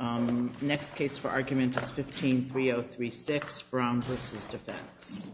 All right, next case for argument is 15-3036, Brown v. Defense.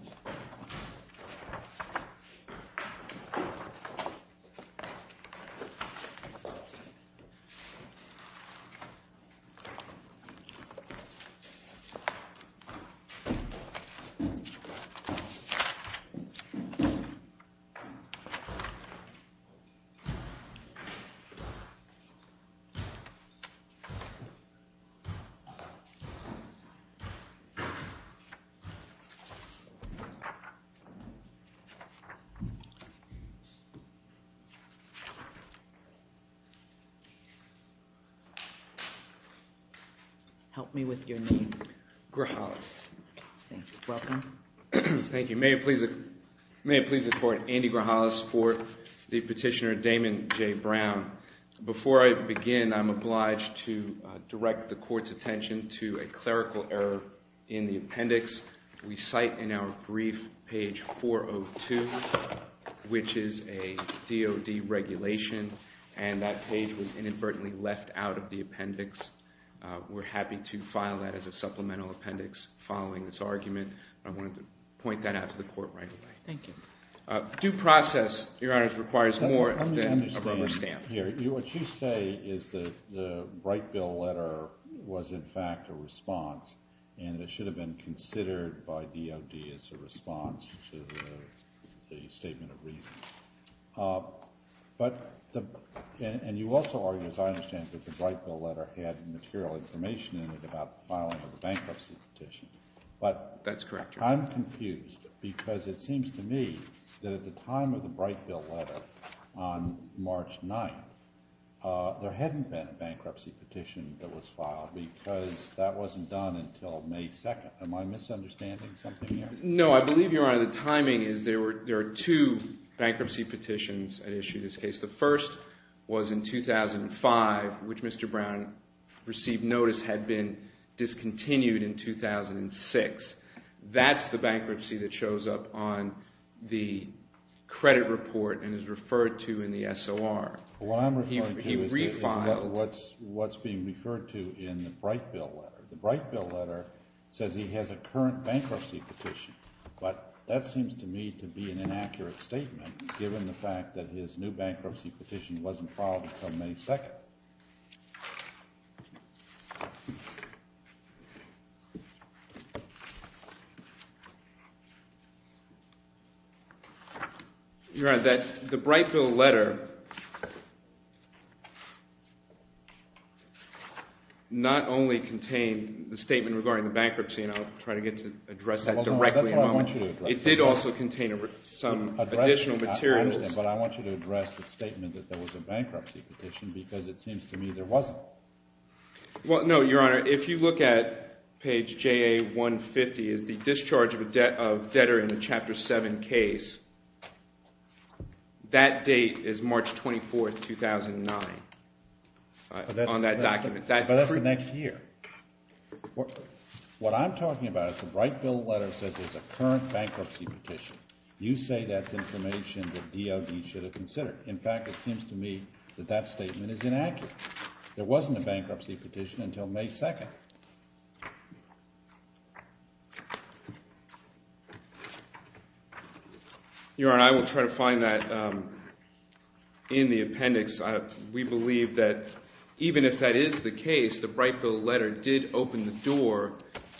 Help me with your name. Grahalis. Thank you. Welcome. Thank you. May it please the Court, Andy Grahalis for the petitioner, Damon J. Brown. Before I begin, I'm obliged to direct the Court's attention to a clerical error in the appendix. We cite in our brief page 402, which is a DOD regulation, and that page was inadvertently left out of the appendix. We're happy to file that as a supplemental appendix following this argument. I wanted to point that out to the Court right away. Thank you. Due process, Your Honor, requires more than a rubber stamp. Let me understand here. What you say is that the Bright Bill letter was, in fact, a response, and it should have been considered by DOD as a response to the statement of reason. And you also argue, as I understand it, that the Bright Bill letter had material information in it about the filing of the bankruptcy petition. That's correct, Your Honor. I'm confused because it seems to me that at the time of the Bright Bill letter on March 9th, there hadn't been a bankruptcy petition that was filed because that wasn't done until May 2nd. Am I misunderstanding something here? No. I believe, Your Honor, the timing is there are two bankruptcy petitions that issued this case. The first was in 2005, which Mr. Brown received notice had been discontinued in 2006. That's the bankruptcy that shows up on the credit report and is referred to in the SOR. What I'm referring to is what's being referred to in the Bright Bill letter. The Bright Bill letter says he has a current bankruptcy petition, but that seems to me to be an inaccurate statement given the fact that his new bankruptcy petition wasn't filed until May 2nd. Your Honor, the Bright Bill letter not only contained the statement regarding the bankruptcy, and I'll try to get to address that directly in a moment. It did also contain some additional materials. I understand, but I want you to address the statement that there was a bankruptcy petition because it seems to me there wasn't. Well, no, Your Honor. If you look at page JA-150, it's the discharge of debtor in the Chapter 7 case. That date is March 24th, 2009 on that document. But that's the next year. What I'm talking about is the Bright Bill letter says there's a current bankruptcy petition. You say that's information that DOD should have considered. In fact, it seems to me that that statement is inaccurate. There wasn't a bankruptcy petition until May 2nd. Your Honor, I will try to find that in the appendix. We believe that even if that is the case, the Bright Bill letter did open the door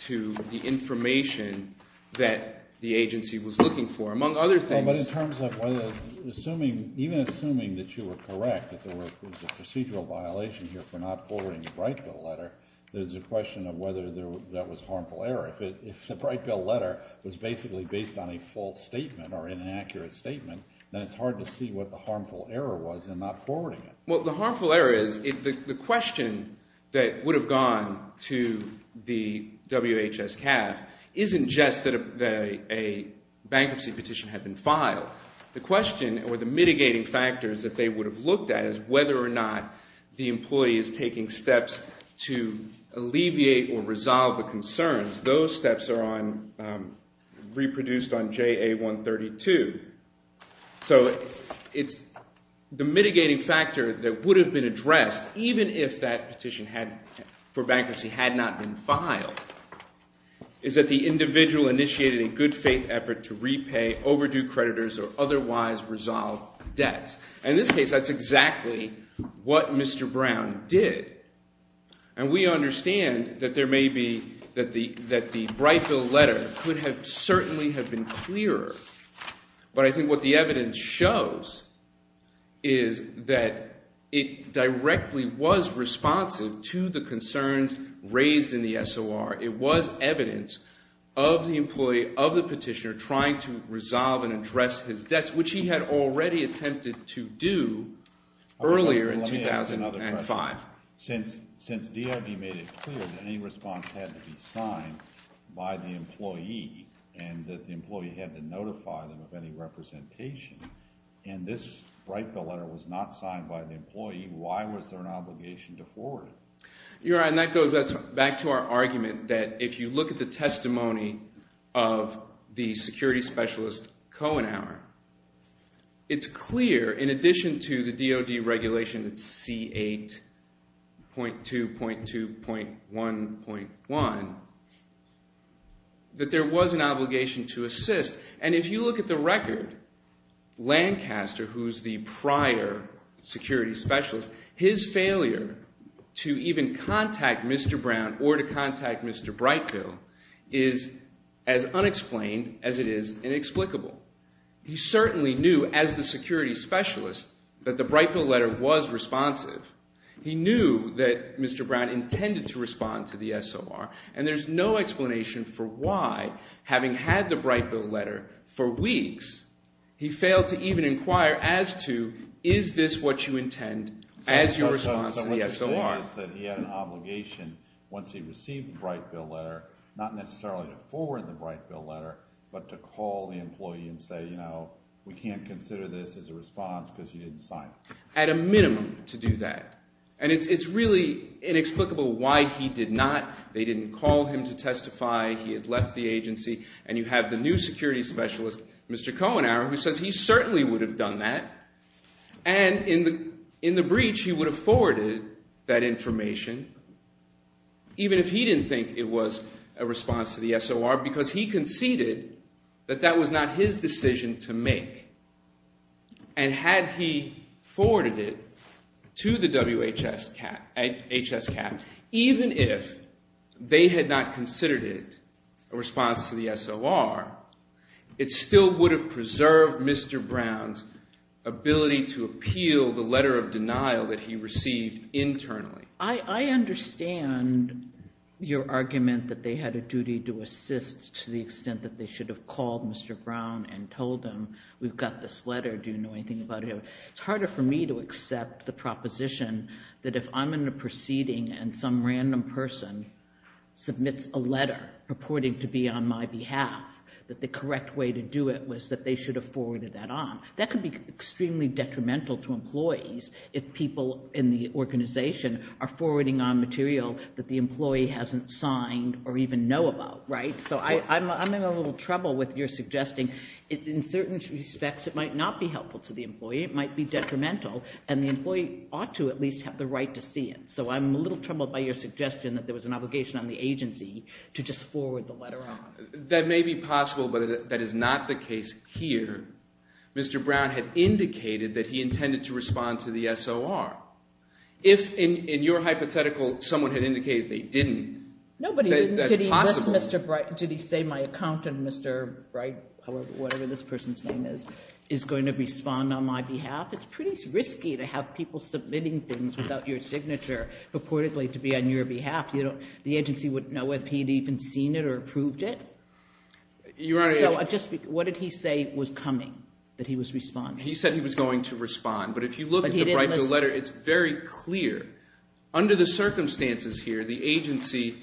to the information that the agency was looking for, among other things. Even assuming that you were correct, that there was a procedural violation here for not forwarding the Bright Bill letter, there's a question of whether that was harmful error. If the Bright Bill letter was basically based on a false statement or inaccurate statement, then it's hard to see what the harmful error was in not forwarding it. Well, the harmful error is the question that would have gone to the WHS CAF isn't just that a bankruptcy petition had been filed. The question or the mitigating factors that they would have looked at is whether or not the employee is taking steps to alleviate or resolve the concerns. Those steps are reproduced on JA 132. So the mitigating factor that would have been addressed, even if that petition for bankruptcy had not been filed, is that the individual initiated a good faith effort to repay overdue creditors or otherwise resolve debts. In this case, that's exactly what Mr. Brown did. And we understand that there may be – that the Bright Bill letter could have certainly have been clearer. But I think what the evidence shows is that it directly was responsive to the concerns raised in the SOR. It was evidence of the employee of the petitioner trying to resolve and address his debts, which he had already attempted to do earlier in 2005. Since DOD made it clear that any response had to be signed by the employee and that the employee had to notify them of any representation, and this Bright Bill letter was not signed by the employee, why was there an obligation to forward it? And that goes back to our argument that if you look at the testimony of the security specialist, Kohenauer, it's clear in addition to the DOD regulation, it's C8.2.2.1.1, that there was an obligation to assist. And if you look at the record, Lancaster, who's the prior security specialist, his failure to even contact Mr. Brown or to contact Mr. Bright Bill is as unexplained as it is inexplicable. He certainly knew as the security specialist that the Bright Bill letter was responsive. He knew that Mr. Brown intended to respond to the SOR, and there's no explanation for why, having had the Bright Bill letter for weeks, he failed to even inquire as to, is this what you intend as your response to the SOR? My understanding is that he had an obligation once he received the Bright Bill letter, not necessarily to forward the Bright Bill letter, but to call the employee and say, we can't consider this as a response because you didn't sign it. I had a minimum to do that. And it's really inexplicable why he did not. They didn't call him to testify. He had left the agency. And you have the new security specialist, Mr. Kohenauer, who says he certainly would have done that. And in the breach, he would have forwarded that information even if he didn't think it was a response to the SOR because he conceded that that was not his decision to make. And had he forwarded it to the WHS CAT, even if they had not considered it a response to the SOR, it still would have preserved Mr. Brown's ability to appeal the letter of denial that he received internally. I understand your argument that they had a duty to assist to the extent that they should have called Mr. Brown and told him, we've got this letter, do you know anything about it? It's harder for me to accept the proposition that if I'm in a proceeding and some random person submits a letter purporting to be on my behalf, that the correct way to do it was that they should have forwarded that on. That could be extremely detrimental to employees if people in the organization are forwarding on material that the employee hasn't signed or even know about, right? So I'm in a little trouble with your suggesting in certain respects it might not be helpful to the employee. It might be detrimental, and the employee ought to at least have the right to see it. So I'm a little troubled by your suggestion that there was an obligation on the agency to just forward the letter on. That may be possible, but that is not the case here. Mr. Brown had indicated that he intended to respond to the SOR. If, in your hypothetical, someone had indicated they didn't, that's possible. Did he say my accountant, Mr. Bright, whatever this person's name is, is going to respond on my behalf? It's pretty risky to have people submitting things without your signature purportedly to be on your behalf. The agency wouldn't know if he'd even seen it or approved it. So what did he say was coming, that he was responding? He said he was going to respond, but if you look at the Brightman letter, it's very clear. Under the circumstances here, the agency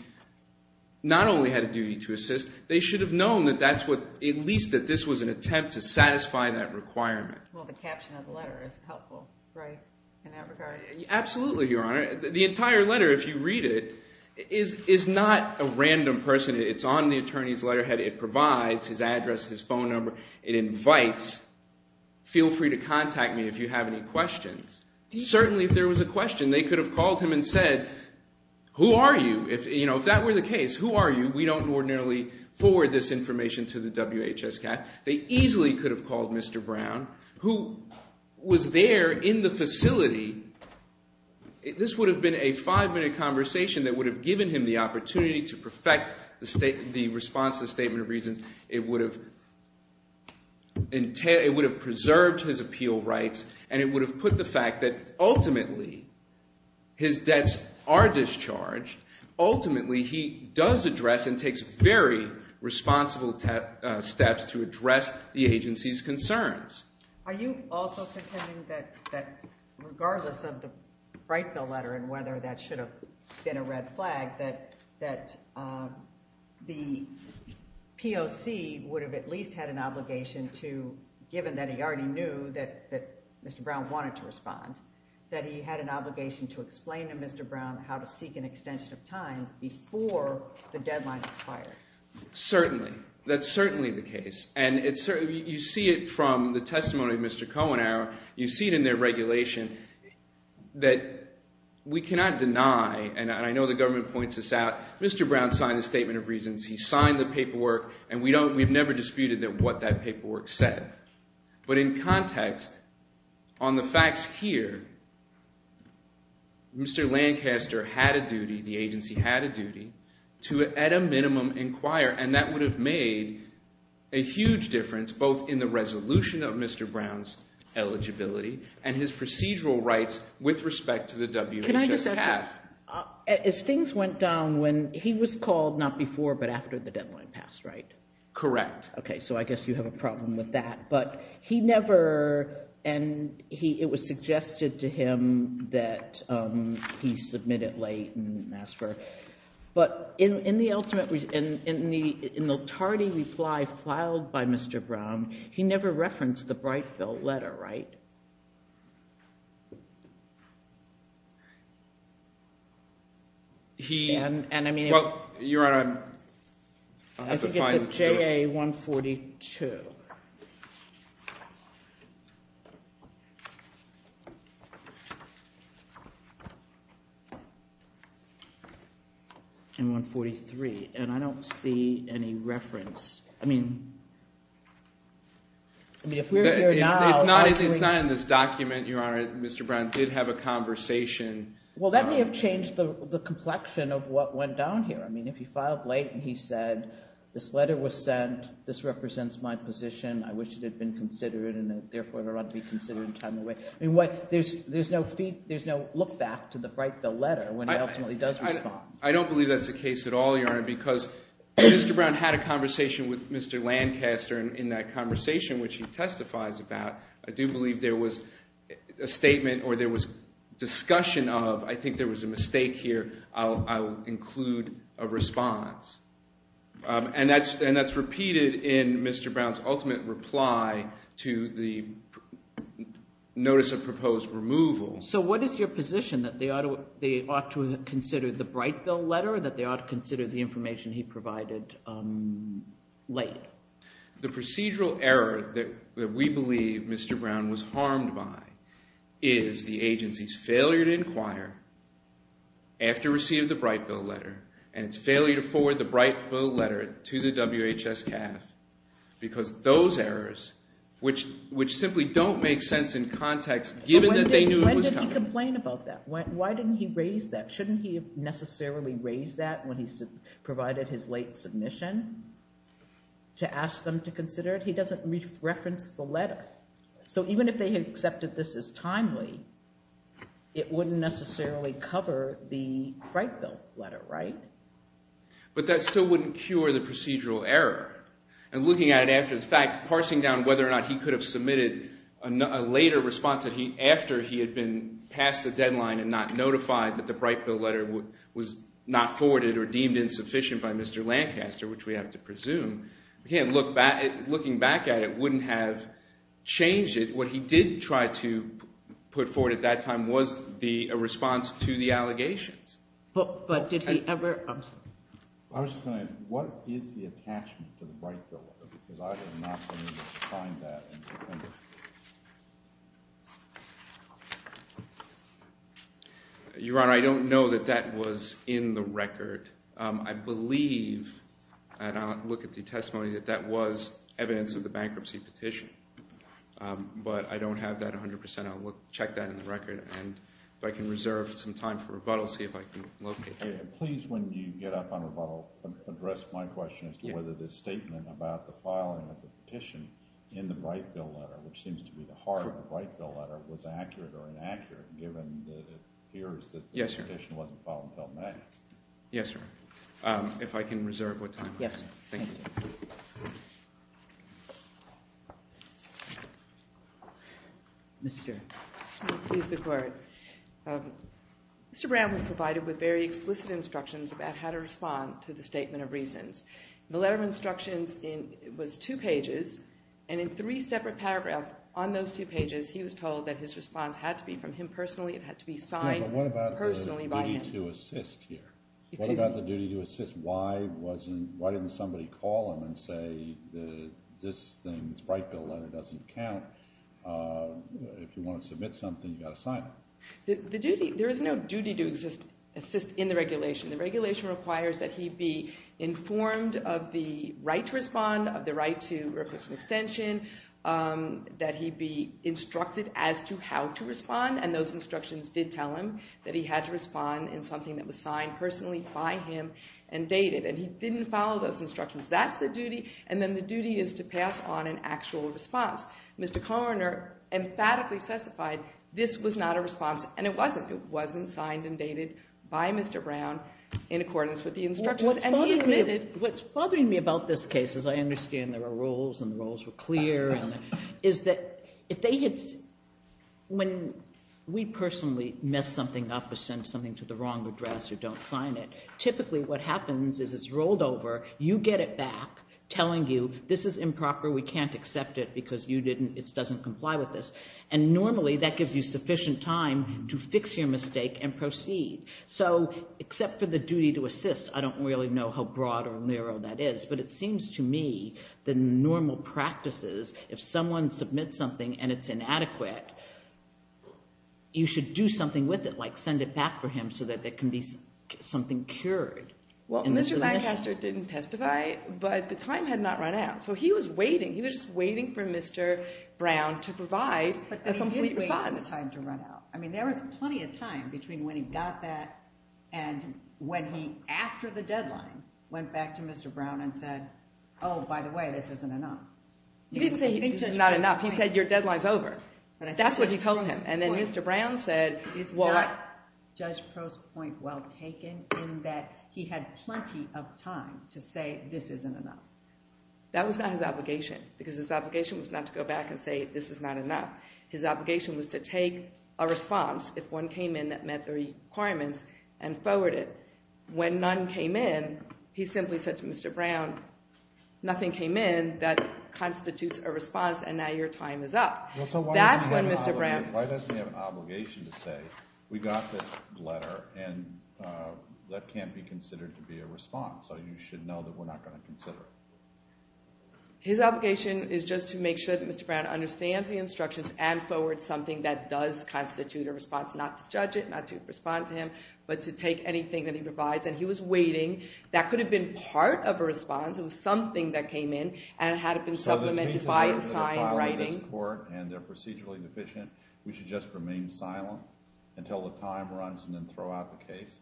not only had a duty to assist. They should have known that that's what – at least that this was an attempt to satisfy that requirement. Well, the caption of the letter is helpful in that regard. Absolutely, Your Honor. The entire letter, if you read it, is not a random person. It's on the attorney's letterhead. It provides his address, his phone number. It invites, feel free to contact me if you have any questions. Certainly, if there was a question, they could have called him and said, who are you? If that were the case, who are you? We don't ordinarily forward this information to the WHSCAT. They easily could have called Mr. Brown, who was there in the facility. This would have been a five-minute conversation that would have given him the opportunity to perfect the response to the Statement of Reasons. It would have preserved his appeal rights, and it would have put the fact that ultimately his debts are discharged. Ultimately, he does address and takes very responsible steps to address the agency's concerns. Are you also contending that regardless of the Brightville letter and whether that should have been a red flag, that the POC would have at least had an obligation to, given that he already knew that Mr. Brown wanted to respond, that he had an obligation to explain to Mr. Brown how to seek an extension of time before the deadline expired? Certainly. That's certainly the case. You see it from the testimony of Mr. Kohenauer. You see it in their regulation that we cannot deny, and I know the government points this out, Mr. Brown signed the Statement of Reasons. He signed the paperwork, and we've never disputed what that paperwork said. But in context, on the facts here, Mr. Lancaster had a duty, the agency had a duty, to at a minimum inquire, and that would have made a huge difference both in the resolution of Mr. Brown's eligibility and his procedural rights with respect to the WHS staff. Can I just ask you, as things went down when he was called not before but after the deadline passed, right? Correct. Okay, so I guess you have a problem with that. But he never, and it was suggested to him that he submit it late and ask for it. But in the ultimate, in the tardy reply filed by Mr. Brown, he never referenced the Brightfield letter, right? He, well, Your Honor, I have to find the case. CA 142. And 143, and I don't see any reference. I mean, if we're here now. It's not in this document, Your Honor. Mr. Brown did have a conversation. Well, that may have changed the complexion of what went down here. I mean, if he filed late and he said, this letter was sent. This represents my position. I wish it had been considered and therefore it ought to be considered in time and weight. There's no look back to the Brightfield letter when he ultimately does respond. I don't believe that's the case at all, Your Honor, because Mr. Brown had a conversation with Mr. Lancaster. And in that conversation, which he testifies about, I do believe there was a statement or there was discussion of. I think there was a mistake here. I'll include a response. And that's repeated in Mr. Brown's ultimate reply to the notice of proposed removal. So what is your position, that they ought to have considered the Brightfield letter or that they ought to consider the information he provided late? The procedural error that we believe Mr. Brown was harmed by is the agency's failure to inquire after receiving the Brightfield letter and its failure to forward the Brightfield letter to the WHS CAF because those errors, which simply don't make sense in context, given that they knew it was coming. When did he complain about that? Why didn't he raise that? Shouldn't he have necessarily raised that when he provided his late submission to ask them to consider it? He doesn't reference the letter. So even if they had accepted this as timely, it wouldn't necessarily cover the Brightfield letter, right? But that still wouldn't cure the procedural error. And looking at it after the fact, parsing down whether or not he could have submitted a later response after he had been past the deadline and not notified that the Brightfield letter was not forwarded or deemed insufficient by Mr. Lancaster, which we have to presume, looking back at it, wouldn't have changed it. What he did try to put forward at that time was a response to the allegations. But did he ever – I'm sorry. I was just going to ask, what is the attachment to the Brightfield letter? Because I am not going to find that in the appendix. Your Honor, I don't know that that was in the record. I believe, and I'll look at the testimony, that that was evidence of the bankruptcy petition. But I don't have that 100%. I'll check that in the record. And if I can reserve some time for rebuttal, see if I can locate it. Please, when you get up on rebuttal, address my question as to whether this statement about the filing of the petition in the Brightfield letter, which seems to be the heart of the Brightfield letter, was accurate or inaccurate given that it appears that the petition wasn't filed until May. Yes, sir. If I can reserve what time I have. Yes. Thank you. Mr. Smith, please, the court. Mr. Brown was provided with very explicit instructions about how to respond to the statement of reasons. The letter of instructions was two pages, and in three separate paragraphs on those two pages, he was told that his response had to be from him personally. It had to be signed personally by him. What about the duty to assist here? What about the duty to assist? Why didn't somebody call him and say, this thing, this Brightfield letter doesn't count. If you want to submit something, you've got to sign it. The duty, there is no duty to assist in the regulation. The regulation requires that he be informed of the right to respond, of the right to request an extension, that he be instructed as to how to respond, and those instructions did tell him that he had to respond in something that was signed personally by him and dated, and he didn't follow those instructions. That's the duty, and then the duty is to pass on an actual response. Mr. Koehner emphatically specified this was not a response, and it wasn't. It wasn't signed and dated by Mr. Brown in accordance with the instructions, and he admitted. What's bothering me about this case, as I understand there are rules and the rules were clear, is that if they had, when we personally mess something up or send something to the wrong address or don't sign it, typically what happens is it's rolled over. You get it back telling you this is improper. We can't accept it because you didn't, it doesn't comply with this, and normally that gives you sufficient time to fix your mistake and proceed. So except for the duty to assist, I don't really know how broad or narrow that is, but it seems to me the normal practices, if someone submits something and it's inadequate, you should do something with it, like send it back for him so that there can be something cured. Well, Mr. Bancaster didn't testify, but the time had not run out, so he was waiting. He was waiting for Mr. Brown to provide a complete response. But then he did wait for the time to run out. I mean, there was plenty of time between when he got that and when he, after the deadline, went back to Mr. Brown and said, oh, by the way, this isn't enough. He didn't say this is not enough. He said your deadline's over. That's what he told him. And then Mr. Brown said, well, what? Judge Proh's point well taken in that he had plenty of time to say this isn't enough. That was not his obligation because his obligation was not to go back and say this is not enough. His obligation was to take a response, if one came in that met the requirements, and forward it. When none came in, he simply said to Mr. Brown, nothing came in that constitutes a response, and now your time is up. So why does he have an obligation to say we got this letter, and that can't be considered to be a response? So you should know that we're not going to consider it. His obligation is just to make sure that Mr. Brown understands the instructions and forwards something that does constitute a response, not to judge it, not to respond to him, but to take anything that he provides. And he was waiting. That could have been part of a response. It was something that came in, and it had been supplemented by a signed writing. So the reason why they're filing this court and they're procedurally deficient, we should just remain silent until the time runs and then throw out the case?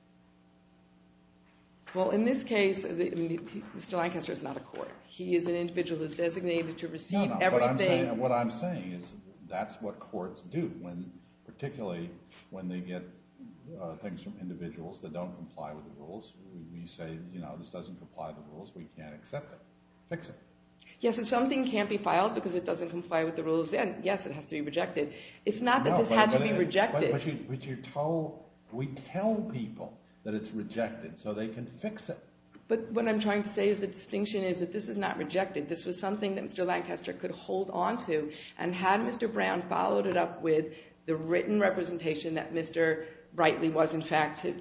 Well, in this case, Mr. Lancaster is not a court. He is an individual who is designated to receive everything. What I'm saying is that's what courts do, particularly when they get things from individuals that don't comply with the rules. We say, you know, this doesn't comply with the rules. We can't accept it. Fix it. Yes, if something can't be filed because it doesn't comply with the rules, then, yes, it has to be rejected. It's not that this had to be rejected. But we tell people that it's rejected so they can fix it. But what I'm trying to say is the distinction is that this is not rejected. This was something that Mr. Lancaster could hold onto, and had Mr. Brown followed it up with the written representation that Mr. Brightly was in fact his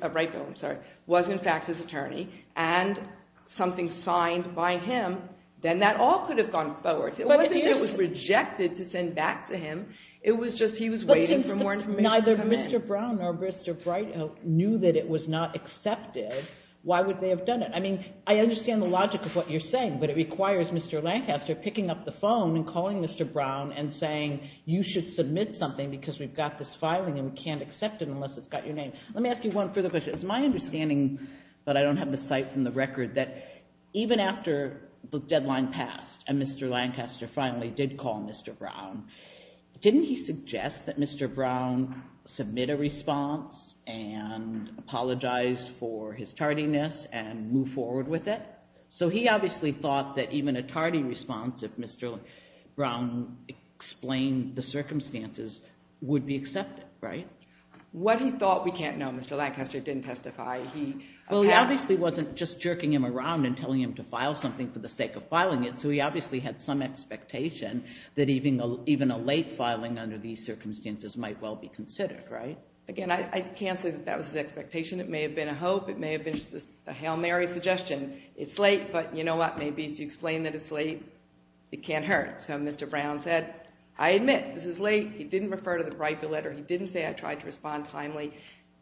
attorney and something signed by him, then that all could have gone forward. It wasn't that it was rejected to send back to him. It was just he was waiting for more information to come in. Neither Mr. Brown nor Mr. Brightly knew that it was not accepted. Why would they have done it? I mean, I understand the logic of what you're saying, but it requires Mr. Lancaster picking up the phone and calling Mr. Brown and saying you should submit something because we've got this filing and we can't accept it unless it's got your name. Let me ask you one further question. It's my understanding, but I don't have the site from the record, that even after the deadline passed and Mr. Lancaster finally did call Mr. Brown, didn't he suggest that Mr. Brown submit a response and apologize for his tardiness and move forward with it? So he obviously thought that even a tardy response if Mr. Brown explained the circumstances would be accepted, right? What he thought we can't know, Mr. Lancaster didn't testify. Well, he obviously wasn't just jerking him around and telling him to file something for the sake of filing it, so he obviously had some expectation that even a late filing under these circumstances might well be considered, right? Again, I can't say that that was his expectation. It may have been a hope. It may have been just a Hail Mary suggestion. It's late, but you know what? Maybe if you explain that it's late, it can't hurt. So Mr. Brown said, I admit, this is late. He didn't refer to the bribery letter. He didn't say I tried to respond timely.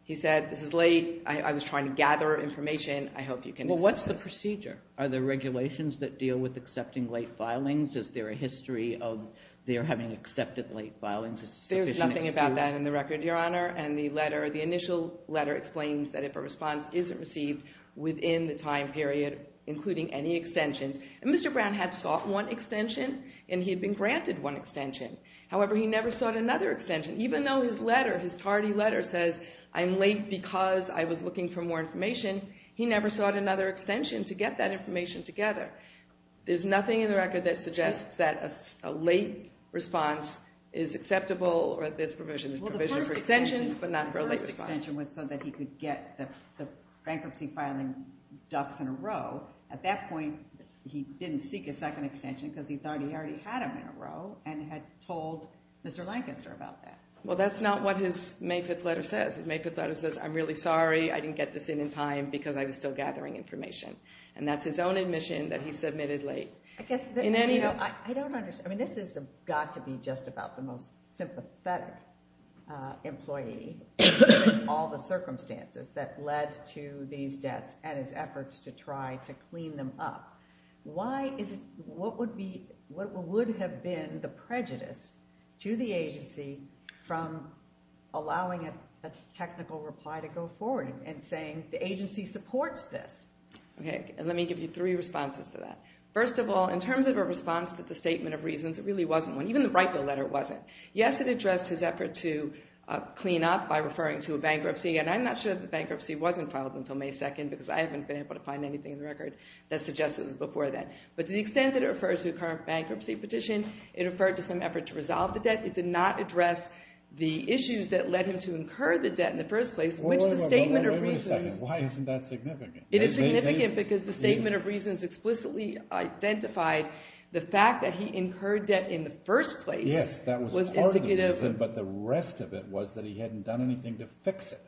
He said, this is late. I was trying to gather information. I hope you can explain this. Well, what's the procedure? Are there regulations that deal with accepting late filings? Is there a history of their having accepted late filings as a sufficient excuse? We've got that in the record, Your Honor. And the initial letter explains that if a response isn't received within the time period, including any extensions, and Mr. Brown had sought one extension, and he had been granted one extension. However, he never sought another extension. Even though his letter, his tardy letter says, I'm late because I was looking for more information, he never sought another extension to get that information together. There's nothing in the record that suggests that a late response is acceptable or that there's provision. There's provision for extensions, but not for a late response. Well, the first extension was so that he could get the bankruptcy filing ducks in a row. At that point, he didn't seek a second extension because he thought he already had them in a row and had told Mr. Lancaster about that. Well, that's not what his May 5th letter says. His May 5th letter says, I'm really sorry. I didn't get this in in time because I was still gathering information. And that's his own admission that he submitted late. I guess, you know, I don't understand. I mean, this has got to be just about the most sympathetic employee in all the circumstances that led to these debts and his efforts to try to clean them up. Why is it, what would be, what would have been the prejudice to the agency from allowing a technical reply to go forward and saying the agency supports this? Okay, and let me give you three responses to that. First of all, in terms of a response to the statement of reasons, it really wasn't one. Even the right bill letter wasn't. Yes, it addressed his effort to clean up by referring to a bankruptcy, and I'm not sure the bankruptcy wasn't filed until May 2nd because I haven't been able to find anything in the record that suggests it was before then. But to the extent that it refers to a current bankruptcy petition, it referred to some effort to resolve the debt. It did not address the issues that led him to incur the debt in the first place, which the statement of reasons. Wait a second. Why isn't that significant? It is significant because the statement of reasons explicitly identified the fact that he incurred debt in the first place. Yes, that was part of the reason, but the rest of it was that he hadn't done anything to fix it,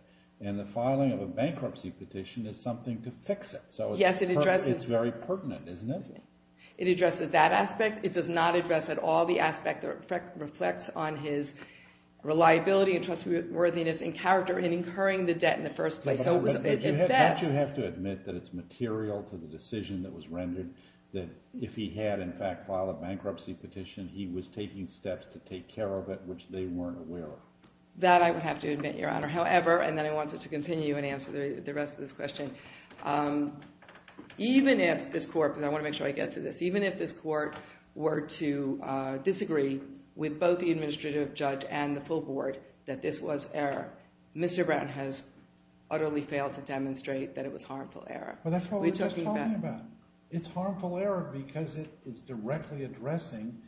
and the filing of a bankruptcy petition is something to fix it. So it's very pertinent, isn't it? It addresses that aspect. It does not address at all the aspect that reflects on his reliability and trustworthiness and character in incurring the debt in the first place. Don't you have to admit that it's material to the decision that was rendered that if he had, in fact, filed a bankruptcy petition, he was taking steps to take care of it, which they weren't aware of? That I would have to admit, Your Honor. However, and then I want to continue and answer the rest of this question, even if this court, because I want to make sure I get to this, even if this court were to disagree with both the administrative judge and the full board that this was error, Mr. Brown has utterly failed to demonstrate that it was harmful error. Well, that's what we're just talking about. It's harmful error because it's directly addressing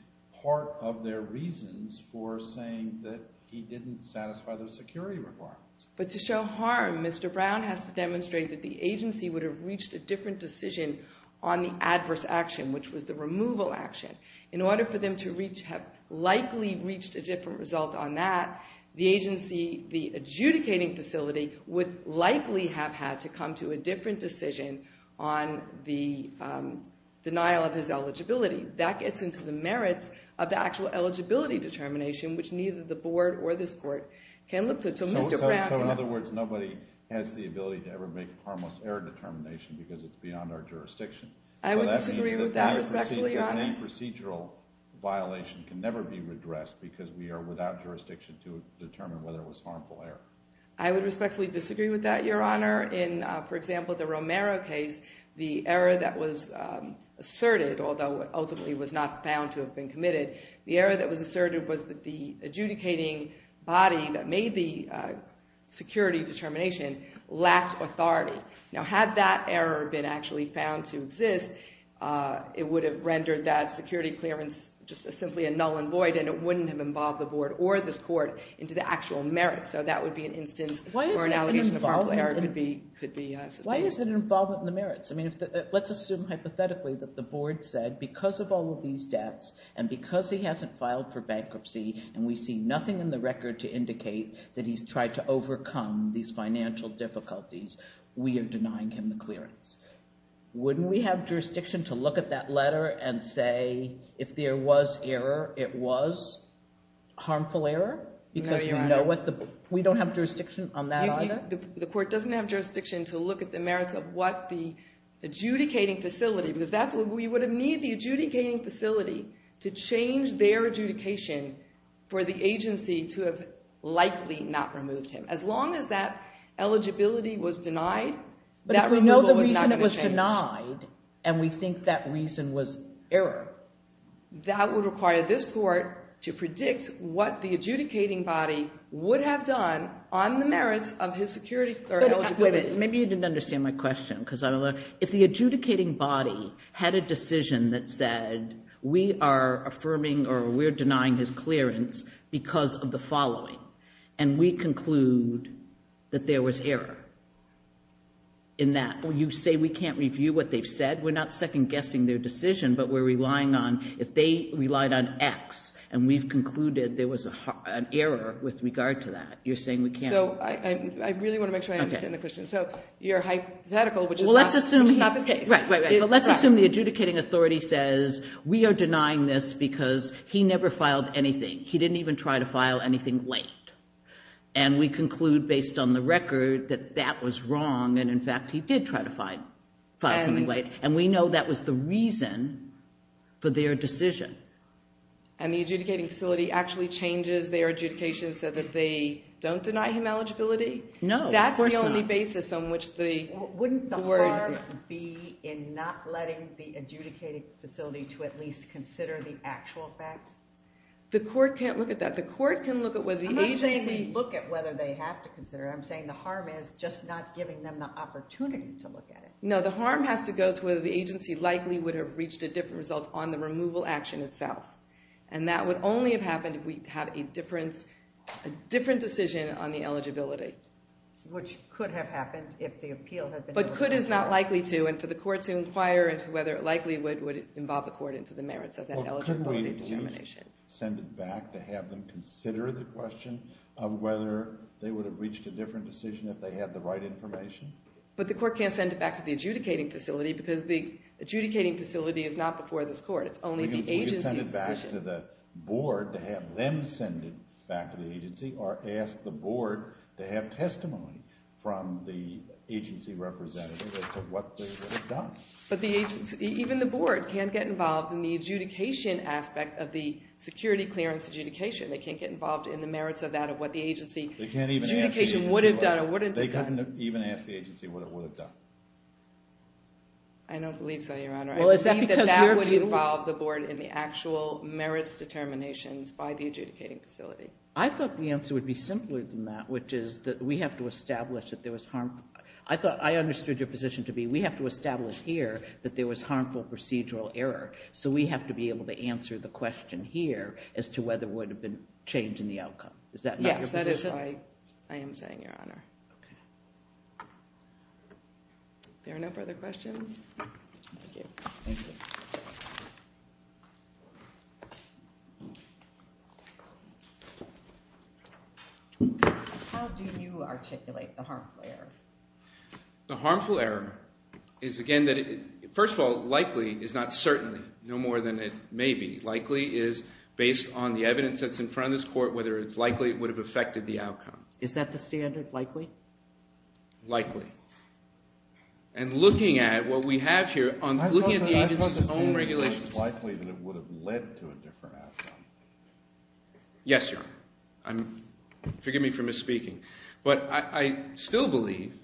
part of their reasons for saying that he didn't satisfy those security requirements. But to show harm, Mr. Brown has to demonstrate that the agency would have reached a different decision on the adverse action, which was the removal action. In order for them to have likely reached a different result on that, the agency, the adjudicating facility, would likely have had to come to a different decision on the denial of his eligibility. That gets into the merits of the actual eligibility determination, which neither the board or this court can look to. So, Mr. Brown... So, in other words, nobody has the ability to ever make harmless error determination because it's beyond our jurisdiction? I would disagree with that, respectfully, Your Honor. So that means that any procedural violation can never be redressed because we are without jurisdiction to determine whether it was harmful error? I would respectfully disagree with that, Your Honor. In, for example, the Romero case, the error that was asserted, although it ultimately was not found to have been committed, the error that was asserted was that the adjudicating body that made the security determination lacked authority. Now, had that error been actually found to exist, it would have rendered that security clearance just simply a null and void and it wouldn't have involved the board or this court into the actual merits. So that would be an instance where an allegation of harmful error could be sustained. Why isn't it involved in the merits? I mean, let's assume hypothetically that the board said, because of all of these debts and because he hasn't filed for bankruptcy and we see nothing in the record to indicate that he's tried to overcome these financial difficulties, we are denying him the clearance. Wouldn't we have jurisdiction to look at that letter and say, if there was error, it was harmful error? No, Your Honor. We don't have jurisdiction on that either? The court doesn't have jurisdiction to look at the merits of what the adjudicating facility, because we would need the adjudicating facility to change their adjudication for the agency to have likely not removed him. As long as that eligibility was denied, that removal was not going to change. And we think that reason was error. That would require this court to predict what the adjudicating body would have done on the merits of his security or eligibility. Wait a minute. Maybe you didn't understand my question because I don't know. If the adjudicating body had a decision that said we are affirming or we're denying his clearance because of the following, and we conclude that there was error in that, well, you say we can't review what they've said. We're not second-guessing their decision, but we're relying on, if they relied on X and we've concluded there was an error with regard to that, you're saying we can't? So I really want to make sure I understand the question. Okay. So you're hypothetical, which is not the case. Well, let's assume the adjudicating authority says, we are denying this because he never filed anything. He didn't even try to file anything late. And we conclude, based on the record, that that was wrong, and, in fact, he did try to file something late. And we know that was the reason for their decision. And the adjudicating facility actually changes their adjudication so that they don't deny him eligibility? No, of course not. That's the only basis on which the court – Wouldn't the harm be in not letting the adjudicating facility to at least consider the actual facts? The court can't look at that. The court can look at whether the agency – I'm not saying they look at whether they have to consider it. I'm saying the harm is just not giving them the opportunity to look at it. No, the harm has to go to whether the agency likely would have reached a different result on the removal action itself. And that would only have happened if we had a different decision on the eligibility. Which could have happened if the appeal had been – But could is not likely to, and for the court to inquire into whether it likely would involve the court into the merits of that eligibility determination. Well, couldn't we at least send it back to have them consider the question of whether they would have reached a different decision if they had the right information? But the court can't send it back to the adjudicating facility because the adjudicating facility is not before this court. It's only the agency's decision. We could send it back to the board to have them send it back to the agency or ask the board to have testimony from the agency representative as to what they would have done. But the agency – even the board can't get involved in the adjudication aspect of the security clearance adjudication. They can't get involved in the merits of that or what the agency adjudication would have done or wouldn't have done. They couldn't even ask the agency what it would have done. I don't believe so, Your Honor. I believe that that would involve the board in the actual merits determinations by the adjudicating facility. I thought the answer would be simpler than that, which is that we have to establish that there was harmful – I thought I understood your position to be we have to establish here that there was harmful procedural error. So we have to be able to answer the question here as to whether it would have been changed in the outcome. Is that not your position? Yes, that is what I am saying, Your Honor. Okay. If there are no further questions. Thank you. Thank you. How do you articulate the harmful error? The harmful error is, again – first of all, likely is not certainly, no more than it may be. Likely is based on the evidence that's in front of this court, whether it's likely it would have affected the outcome. Is that the standard, likely? Likely. And looking at what we have here, looking at the agency's own regulations – I thought the standard was likely that it would have led to a different outcome. Yes, Your Honor. Forgive me for misspeaking. But I still believe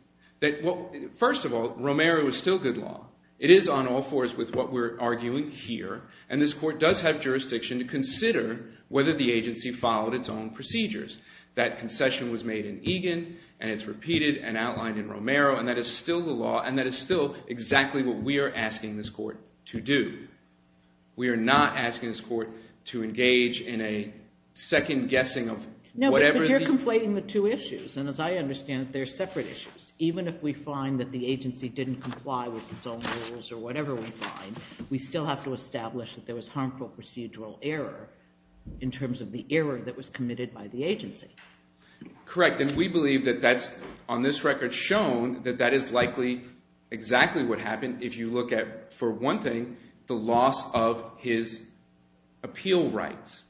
that – first of all, Romero is still good law. It is on all fours with what we're arguing here. And this court does have jurisdiction to consider whether the agency followed its own procedures. That concession was made in Egan, and it's repeated and outlined in Romero, and that is still the law, and that is still exactly what we are asking this court to do. We are not asking this court to engage in a second guessing of whatever – No, but you're conflating the two issues. And as I understand it, they're separate issues. Even if we find that the agency didn't comply with its own rules or whatever we find, we still have to establish that there was harmful procedural error in terms of the error that was committed by the agency. Correct, and we believe that that's on this record shown that that is likely exactly what happened if you look at, for one thing, the loss of his appeal rights.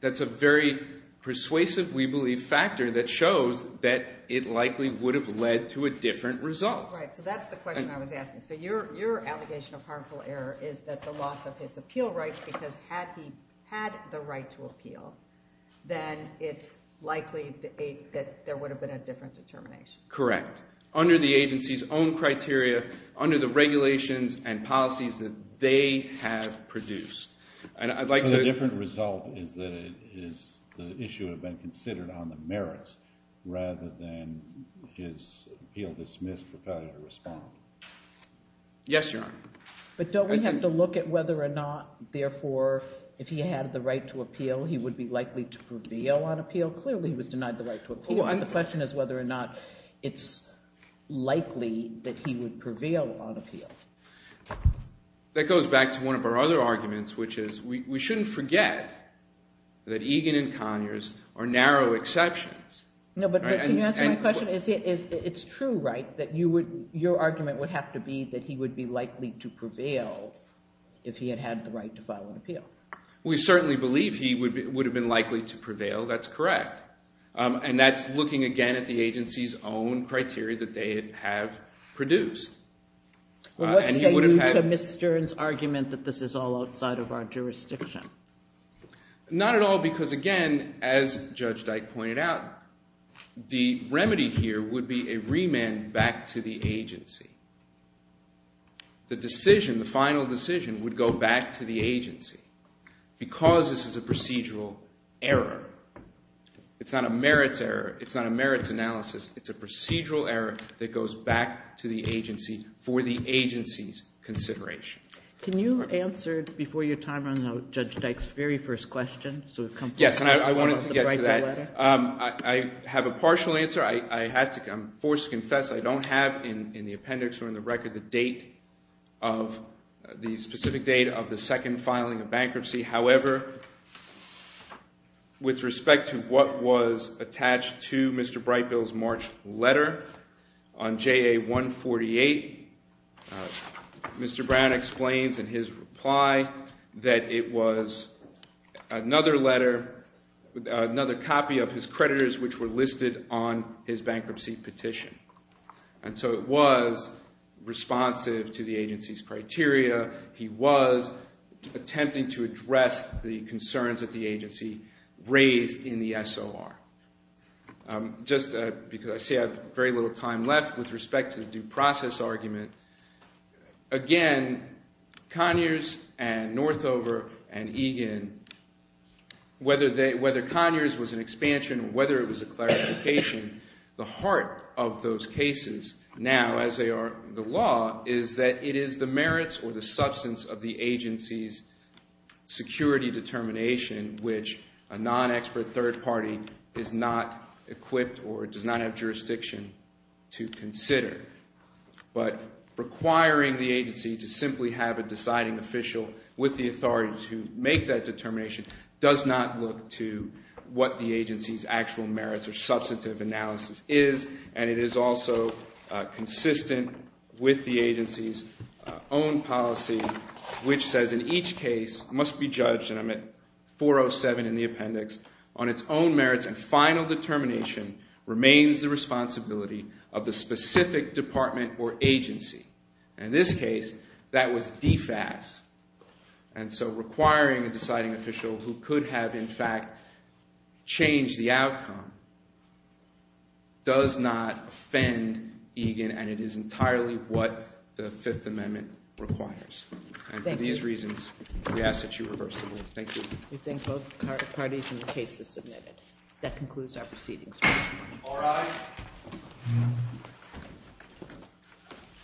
That's a very persuasive, we believe, factor that shows that it likely would have led to a different result. Right, so that's the question I was asking. So your allegation of harmful error is that the loss of his appeal rights, because had he had the right to appeal, then it's likely that there would have been a different determination. Correct. Under the agency's own criteria, under the regulations and policies that they have produced. And I'd like to – So the different result is that the issue had been considered on the merits rather than his appeal dismissed for failure to respond. Yes, Your Honor. But don't we have to look at whether or not, therefore, if he had the right to appeal, he would be likely to prevail on appeal? Clearly he was denied the right to appeal. The question is whether or not it's likely that he would prevail on appeal. That goes back to one of our other arguments, which is we shouldn't forget that Egan and Conyers are narrow exceptions. No, but can you answer my question? It's true, right, that your argument would have to be that he would be likely to prevail if he had had the right to file an appeal. We certainly believe he would have been likely to prevail. That's correct. And that's looking, again, at the agency's own criteria that they have produced. Well, what say you to Ms. Stern's argument that this is all outside of our jurisdiction? Not at all because, again, as Judge Dyke pointed out, the remedy here would be a remand back to the agency. The decision, the final decision, would go back to the agency because this is a procedural error. It's not a merits error. It's not a merits analysis. It's a procedural error that goes back to the agency for the agency's consideration. Can you answer before your time runs out Judge Dyke's very first question? Yes, and I wanted to get to that. I have a partial answer. I'm forced to confess. I don't have in the appendix or in the record the specific date of the second filing of bankruptcy. However, with respect to what was attached to Mr. Brightbill's March letter on JA 148, Mr. Brown explains in his reply that it was another letter, another copy of his creditors which were listed on his bankruptcy petition. And so it was responsive to the agency's criteria. He was attempting to address the concerns that the agency raised in the SOR. Just because I see I have very little time left with respect to the due process argument. Again, Conyers and Northover and Egan, whether Conyers was an expansion or whether it was a clarification, the heart of those cases now as they are the law is that it is the merits or the substance of the agency's security determination which a non-expert third party is not equipped or does not have jurisdiction to consider. But requiring the agency to simply have a deciding official with the authority to make that determination does not look to what the agency's actual merits or substantive analysis is and it is also consistent with the agency's own policy which says in each case must be judged, and I'm at 407 in the appendix, on its own merits and final determination remains the responsibility of the specific department or agency. In this case, that was DFAS. And so requiring a deciding official who could have in fact changed the outcome does not offend Egan and it is entirely what the Fifth Amendment requires. And for these reasons, we ask that you reverse the rule. Thank you. We thank both parties and the case is submitted. That concludes our proceedings. All rise.